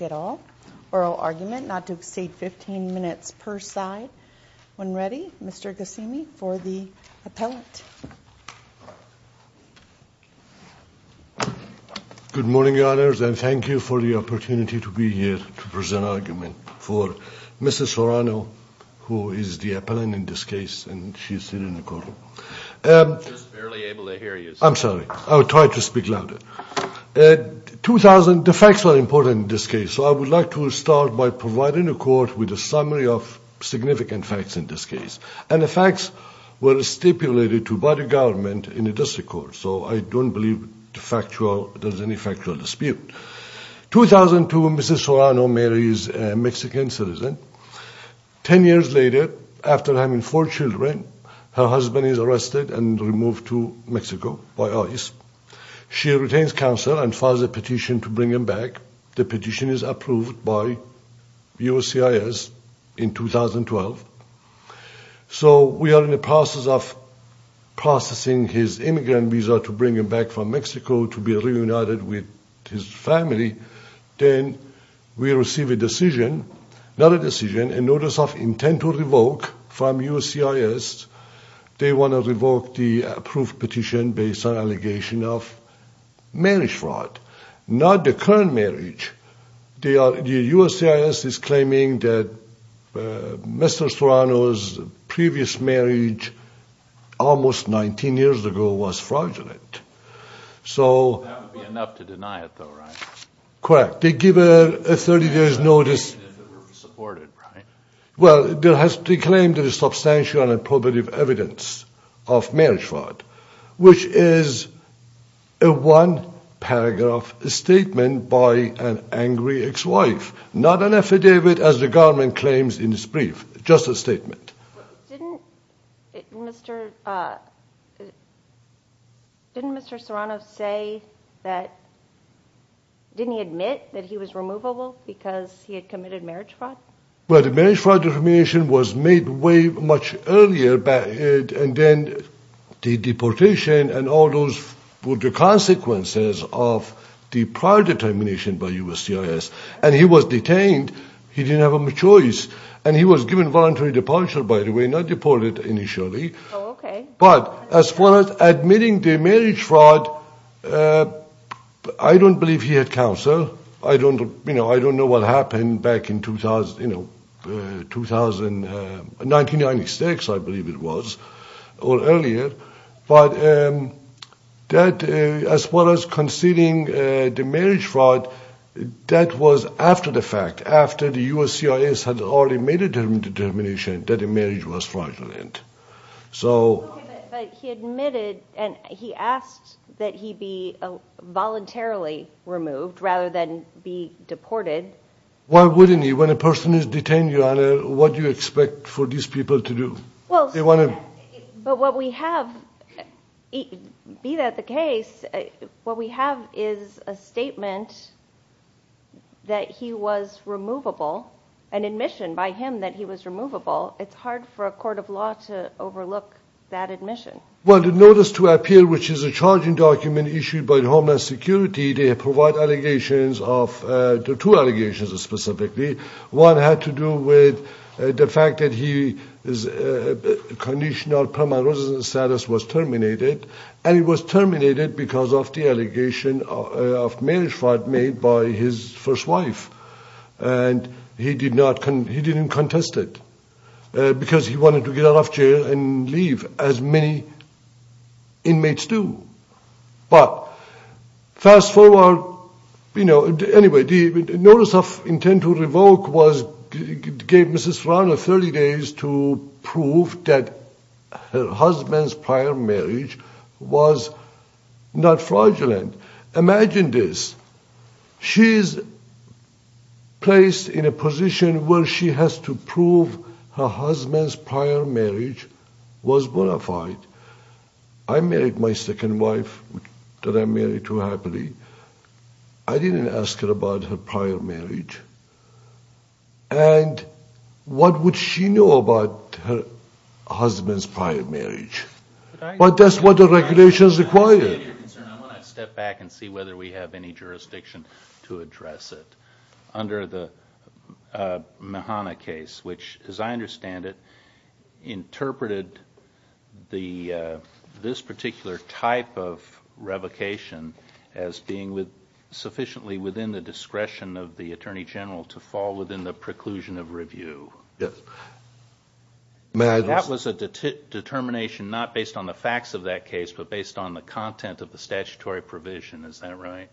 at all. Oral argument not to exceed 15 minutes per side. When ready, Mr. Ghasemi for the appellate. Good morning, Your Honors, and thank you for the opportunity to be here to hear you. I'm sorry, I'll try to speak louder. 2000, the facts are important in this case, so I would like to start by providing a court with a summary of significant facts in this case. And the facts were stipulated to by the government in the district court. So I don't believe the factual, there's any factual dispute. 2002, Mrs. Serrano marries a Mexican citizen. Ten years later, after having four children, her husband is arrested and removed to Mexico by ICE. She retains counsel and files a petition to bring him back. The petition is approved by USCIS in 2012. So we are in the process of processing his immigrant visa to bring him back from Mexico to be reunited with his family. Then we receive a decision, not a decision, a notice of intent to revoke from USCIS. They want to revoke the approved petition based on allegation of marriage fraud. Not the current marriage. USCIS is claiming that Mr. Serrano, 15 years ago, was fraudulent. That would be enough to deny it though, right? Correct. They give a 30 day notice. Well, they claim there is substantial evidence of marriage fraud, which is a one paragraph statement by an angry ex-wife. Not an affidavit as the government claims in its brief. Just a statement. Didn't Mr. Serrano say that, didn't he admit that he was removable because he had committed marriage fraud? Well, the marriage fraud determination was made way much earlier and then the deportation and all those were the consequences of the prior determination by USCIS. And he was detained. He didn't have a choice. And he was given voluntary departure, by the way, not deported initially. But as far as admitting the marriage fraud, I don't believe he had I don't know what happened back in 1996, I believe it was, or earlier. But as far as conceding the marriage fraud, that was after the fact. Okay, but he admitted and he asked that he be voluntarily removed rather than be deported. Why wouldn't he? When a person is detained, Your Honor, what do you expect for these people to do? But what we have, be that the case, what we have is a statement that he was removable, an admission by him that he was removable. It's hard for a court of law to overlook that admission. Well, the Notice to Appeal, which is a charging document issued by Homeland Security, they provide allegations of, two allegations specifically. One had to do with the fact that his conditional permanent residence status was terminated. And it was terminated because of the allegation of marriage fraud made by his first wife. And he did not, he didn't contest it. Because he wanted to get out of jail and leave, as many inmates do. But, fast forward, you know, anyway, the Notice of Intent to Revoke was, gave Mrs. Farhana 30 days to prove that her husband's prior marriage was not fraudulent. Imagine this. She's placed in a position where she has to prove her husband's prior marriage was bona fide. I married my second wife that I married too happily. I didn't ask her about her prior marriage. And what would she know about her husband's prior marriage? But that's what the regulations require. I want to step back and see whether we have any jurisdiction to address it. Under the Mahana case, which, as I understand it, interpreted this particular type of revocation as being sufficiently within the discretion of the Attorney General to fall within the preclusion of review. That was a determination not based on the facts of that case, but based on the content of the statutory provision, is that right?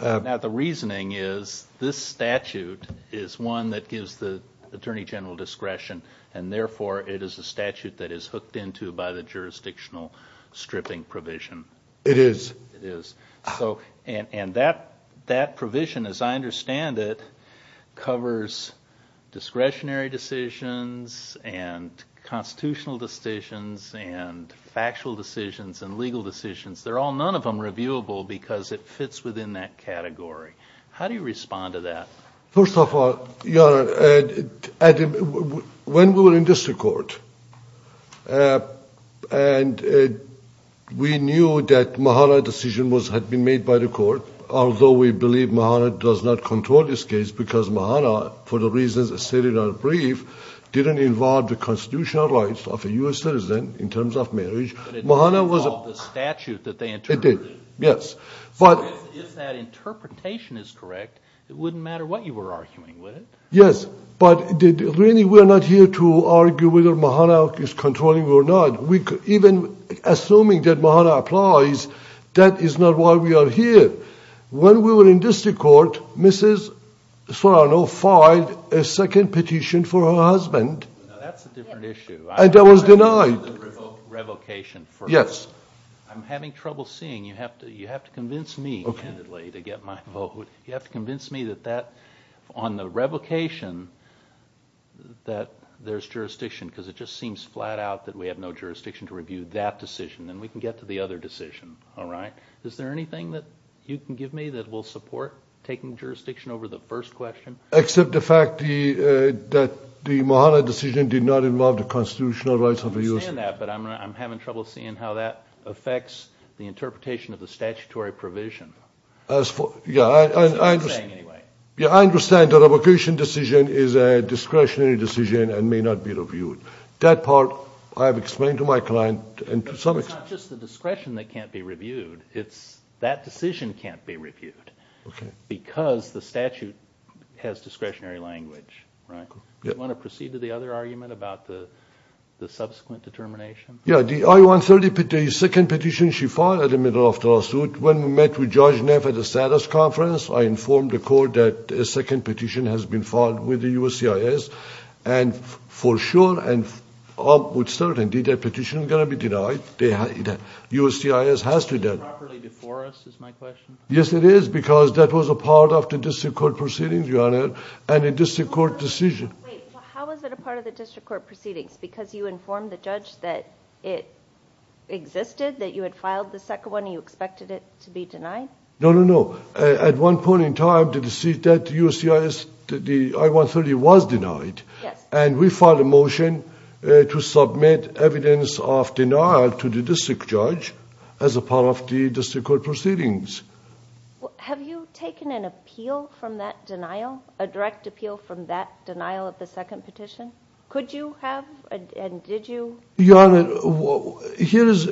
Now the reasoning is, this statute is one that gives the Attorney General discretion, and therefore it is a statute that is hooked into by the jurisdictional stripping provision. It is. And that provision, as I understand it, covers discretionary decisions and constitutional decisions and factual decisions and legal decisions. They're all, none of them, reviewable because it fits within that category. How do you respond to that? First of all, Your Honor, when we were in district court, and we knew that Mahana decision had been made by the court, although we believe Mahana does not control this case because Mahana, for the reasons stated in our brief, didn't involve the constitutional rights of a U.S. citizen in terms of marriage. But it didn't involve the statute that they interpreted. So if that interpretation is correct, it wouldn't matter what you were arguing, would it? Yes, but really we're not here to argue whether Mahana is controlling or not. Even assuming that Mahana applies, that is not why we are here. When we were in district court, Mrs. Solano filed a second petition for her husband. Now that's a different issue. And that was denied. Revocation first. Yes. I'm having trouble seeing. You have to convince me, candidly, to get my vote. You have to convince me that that, on the revocation, that there's jurisdiction because it just seems flat out that we have no jurisdiction to review that decision. Then we can get to the other decision, all right? Is there anything that you can give me that will support taking jurisdiction over the first question? Except the fact that the Mahana decision did not involve the constitutional rights of the U.S. citizen. I understand that, but I'm having trouble seeing how that affects the interpretation of the statutory provision. Yeah, I understand the revocation decision is a discretionary decision and may not be reviewed. That part I have explained to my client. It's not just the discretion that can't be reviewed. That decision can't be reviewed because the statute has discretionary language, right? Do you want to proceed to the other argument about the subsequent determination? Yeah. The I-130, the second petition she filed at the middle of the lawsuit, when we met with Judge Neff at the status conference, I informed the court that a second petition has been filed with the USCIS. For sure and with certainty, that petition is going to be denied. USCIS has to deny it. Is it properly before us, is my question? Yes, it is, because that was a part of the district court proceedings, Your Honor, and a district court decision. Wait. How was it a part of the district court proceedings? Because you informed the judge that it existed, that you had filed the second one, and you expected it to be denied? No, no, no. At one point in time, the decision that USCIS, the I-130 was denied, and we filed a motion to submit evidence of denial to the district judge as a part of the district court proceedings. Have you taken an appeal from that denial, a direct appeal from that denial of the second petition? Could you have, and did you? Your Honor, here is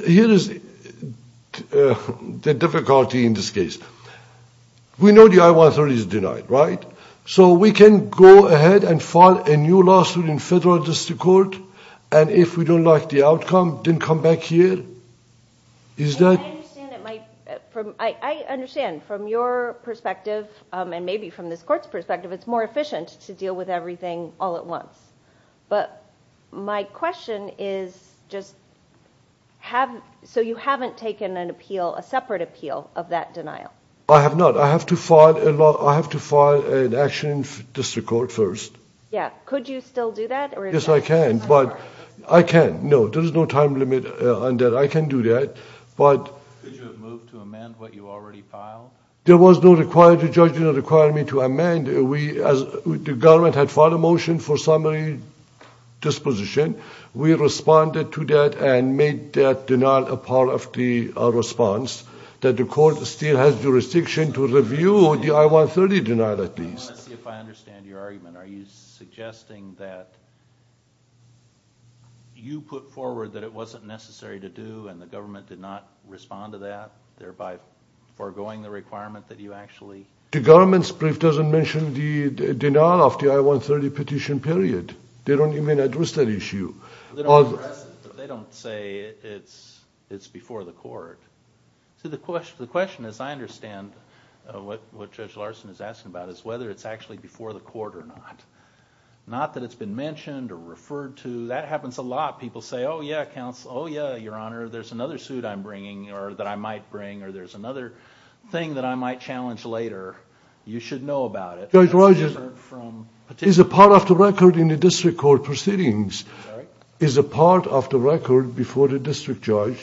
the difficulty in this case. We know the I-130 is denied, right? So we can go ahead and file a new lawsuit in federal district court, and if we don't like the outcome, then come back here? I understand. From your perspective, and maybe from this court's perspective, it's more efficient to deal with everything all at once. But my question is just, so you haven't taken an appeal, a separate appeal of that denial? I have not. I have to file an action in district court first. Yeah. Could you still do that? Yes, I can, but I can't. No, there's no time limit on that. I can do that. Could you have moved to amend what you already filed? There was no requirement. The judge did not require me to amend. The government had filed a motion for summary disposition. We responded to that and made that denial a part of the response. The court still has jurisdiction to review the I-130 denial, at least. I want to see if I understand your argument. Are you suggesting that you put forward that it wasn't necessary to do, and the government did not respond to that, thereby foregoing the requirement that you actually? The government's brief doesn't mention the denial of the I-130 petition, period. They don't even address that issue. They don't address it, but they don't say it's before the court. See, the question, as I understand what Judge Larson is asking about, is whether it's actually before the court or not. Not that it's been mentioned or referred to. That happens a lot. People say, oh, yeah, counsel, oh, yeah, Your Honor, there's another suit I'm bringing or that I might bring or there's another thing that I might challenge later. You should know about it. Judge Rogers, is a part of the record in the district court proceedings, is a part of the record before the district judge?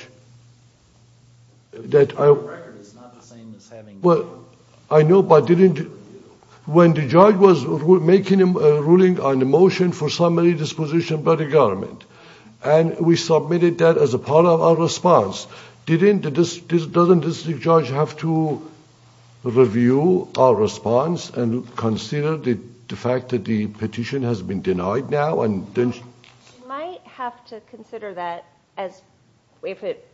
A part of the record is not the same as having the record. I know, but when the judge was making a ruling on the motion for summary disposition by the government, and we submitted that as a part of our response, doesn't the district judge have to review our response and consider the fact that the petition has been denied now? He might have to consider that if it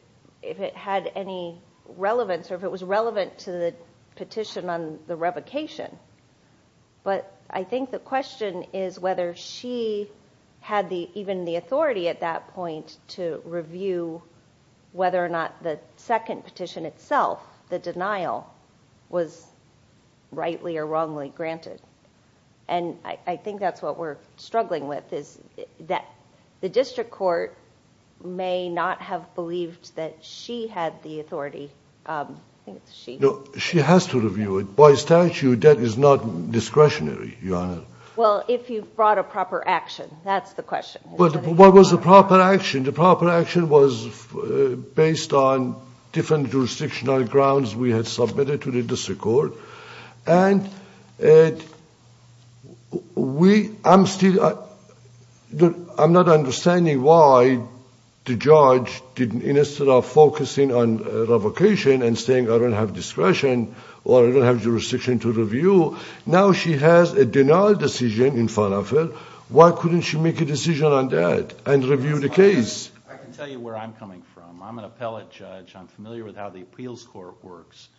had any relevance or if it was relevant to the petition on the revocation. But I think the question is whether she had even the authority at that point to review whether or not the second petition itself, the denial, was rightly or wrongly granted. And I think that's what we're struggling with, is that the district court may not have believed that she had the authority. She has to review it. By statute, that is not discretionary, Your Honor. Well, if you brought a proper action, that's the question. What was the proper action? The proper action was based on different jurisdictional grounds we had submitted to the district court. And I'm not understanding why the judge, instead of focusing on revocation and saying, I don't have discretion or I don't have jurisdiction to review, now she has a denial decision in front of her. Why couldn't she make a decision on that and review the case? I can tell you where I'm coming from. I'm an appellate judge. I'm familiar with how the appeals court works.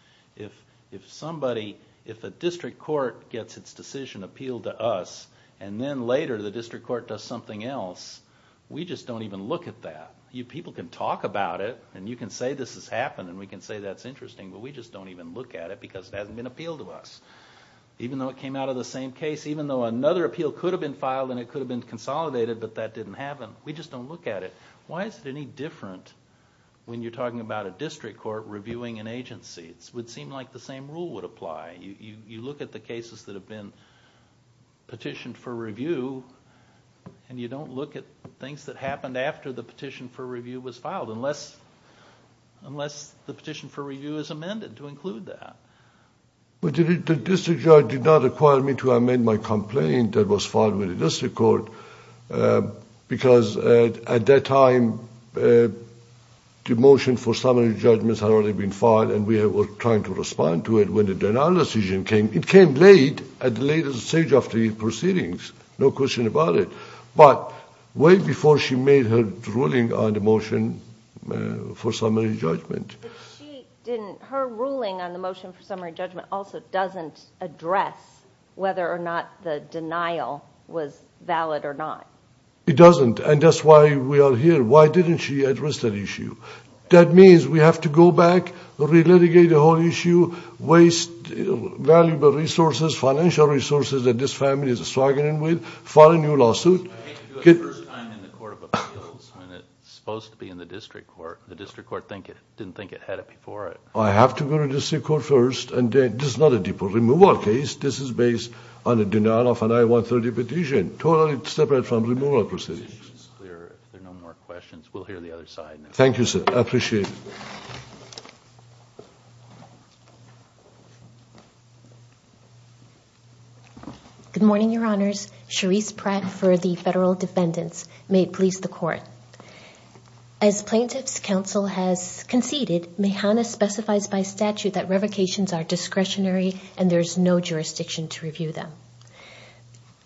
If somebody, if a district court gets its decision appealed to us and then later the district court does something else, we just don't even look at that. People can talk about it and you can say this has happened and we can say that's interesting, but we just don't even look at it because it hasn't been appealed to us. Even though it came out of the same case, even though another appeal could have been filed and it could have been consolidated, but that didn't happen, we just don't look at it. Why is it any different when you're talking about a district court reviewing an agency? It would seem like the same rule would apply. You look at the cases that have been petitioned for review and you don't look at things that happened after the petition for review was filed, unless the petition for review is amended to include that. The district judge did not require me to amend my complaint that was filed with the district court because at that time the motion for summary judgments had already been filed and we were trying to respond to it when the denial decision came. It came late, at the latest stage of the proceedings, no question about it, but way before she made her ruling on the motion for summary judgment. Her ruling on the motion for summary judgment also doesn't address whether or not the denial was valid or not. It doesn't and that's why we are here. Why didn't she address that issue? That means we have to go back, re-litigate the whole issue, waste valuable resources, financial resources that this family is struggling with, file a new lawsuit. I think it's the first time in the court of appeals when it's supposed to be in the district court. The district court didn't think it had it before it. I have to go to the district court first. This is not a removal case. This is based on a denial of an I-130 petition, totally separate from removal proceedings. If there are no more questions, we'll hear the other side. Thank you, sir. I appreciate it. Good morning, Your Honors. Cherise Pratt for the Federal Defendants. May it please the Court. As Plaintiff's Counsel has conceded, Mahana specifies by statute that revocations are discretionary and there is no jurisdiction to review them.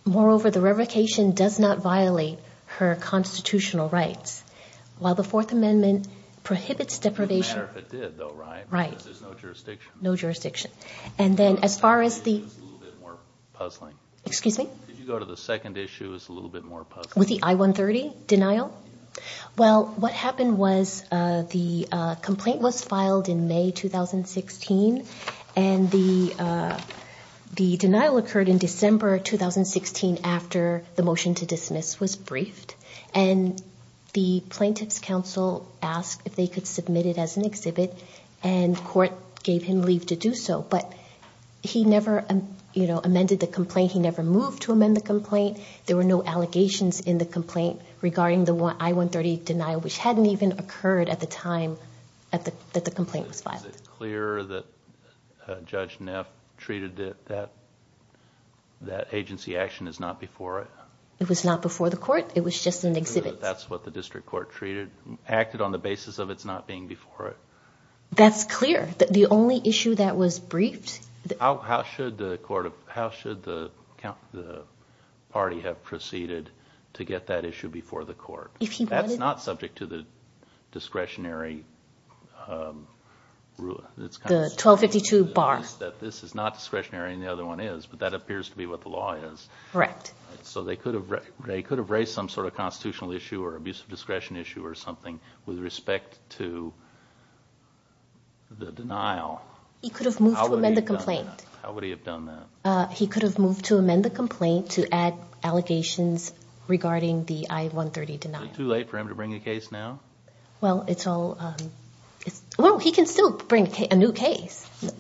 Moreover, the revocation does not violate her constitutional rights. While the Fourth Amendment prohibits deprivation. It doesn't matter if it did though, right? Right. No jurisdiction. And then as far as the... Excuse me? With the I-130 denial? Well, what happened was the complaint was filed in May 2016 and the denial occurred in December 2016 after the motion to dismiss was briefed. And the Plaintiff's Counsel asked if they could submit it as an exhibit and court gave him leave to do so. But he never amended the complaint. He never moved to amend the complaint. There were no allegations in the complaint regarding the I-130 denial which hadn't even occurred at the time that the complaint was filed. Is it clear that Judge Neff treated that agency action as not before it? It was not before the court. It was just an exhibit. That's what the district court treated, acted on the basis of it not being before it? That's clear. The only issue that was briefed... How should the party have proceeded to get that issue before the court? That's not subject to the discretionary rule. The 1252 bar. This is not discretionary and the other one is, but that appears to be what the law is. Correct. So they could have raised some sort of constitutional issue or abuse of discretion issue or something with respect to the denial. He could have moved to amend the complaint. How would he have done that? He could have moved to amend the complaint to add allegations regarding the I-130 denial. Is it too late for him to bring a case now? Well, he can still bring a new case. So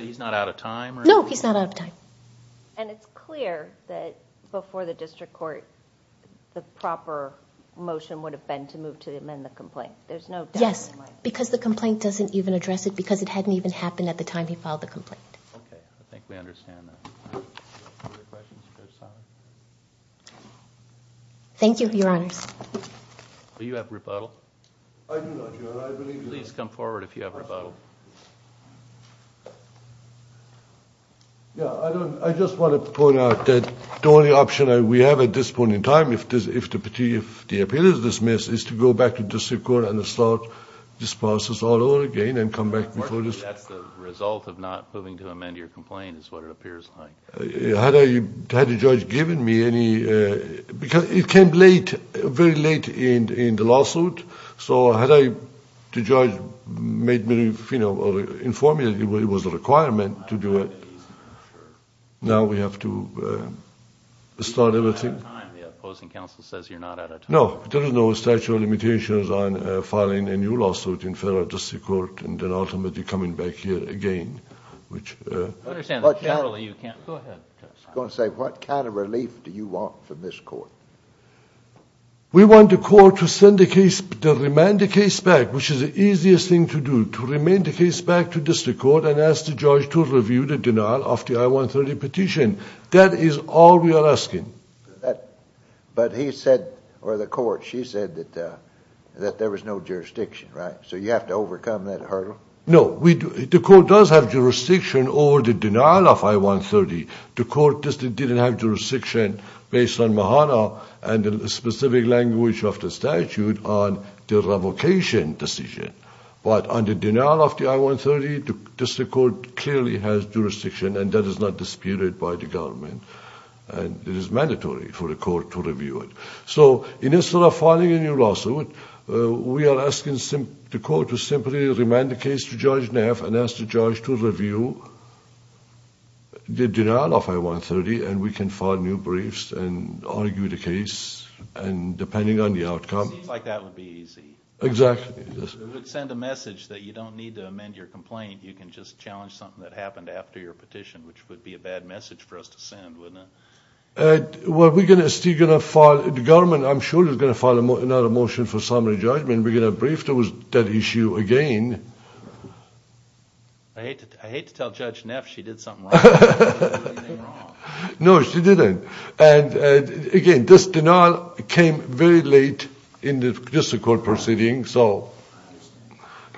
he's not out of time? No, he's not out of time. And it's clear that before the district court, the proper motion would have been to move to amend the complaint. There's no doubt in my mind. Yes, because the complaint doesn't even address it because it hadn't even happened at the time he filed the complaint. Okay, I think we understand that. Thank you, Your Honors. Do you have rebuttal? I do not, Your Honor. Please come forward if you have rebuttal. Yeah, I just want to point out that the only option we have at this point in time if the appeal is dismissed is to go back to the district court and start this process all over again and come back before the district court. Unfortunately, that's the result of not moving to amend your complaint is what it appears like. Had the judge given me any, because it came late, very late in the lawsuit. So had the judge made me, you know, informed me that it was a requirement to do it, now we have to start everything. The opposing counsel says you're not out of time. No, there is no statute of limitations on filing a new lawsuit in federal district court and then ultimately coming back here again, which... I understand that generally you can't... Go ahead. I was going to say, what kind of relief do you want from this court? We want the court to send the case, to remand the case back, which is the easiest thing to do, to remand the case back to district court and ask the judge to review the denial of the I-130 petition. That is all we are asking. But he said, or the court, she said that there was no jurisdiction, right? So you have to overcome that hurdle? No, the court does have jurisdiction over the denial of I-130. The court just didn't have jurisdiction based on Mahana and the specific language of the statute on the revocation decision. But on the denial of the I-130, the district court clearly has jurisdiction, and that is not disputed by the government, and it is mandatory for the court to review it. So instead of filing a new lawsuit, we are asking the court to simply remand the case to Judge Neff and ask the judge to review the denial of I-130, and we can file new briefs and argue the case depending on the outcome. It seems like that would be easy. Exactly. It would send a message that you don't need to amend your complaint. You can just challenge something that happened after your petition, which would be a bad message for us to send, wouldn't it? Well, we are still going to file, the government, I'm sure, is going to file another motion for summary judgment. We're going to brief that issue again. I hate to tell Judge Neff she did something wrong. No, she didn't. And, again, this denial came very late in the district court proceeding, so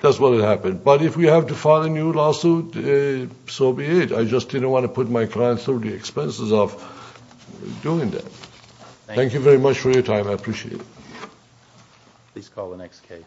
that's what happened. But if we have to file a new lawsuit, so be it. I just didn't want to put my clients through the expenses of doing that. Thank you very much for your time. I appreciate it. Please call the next case.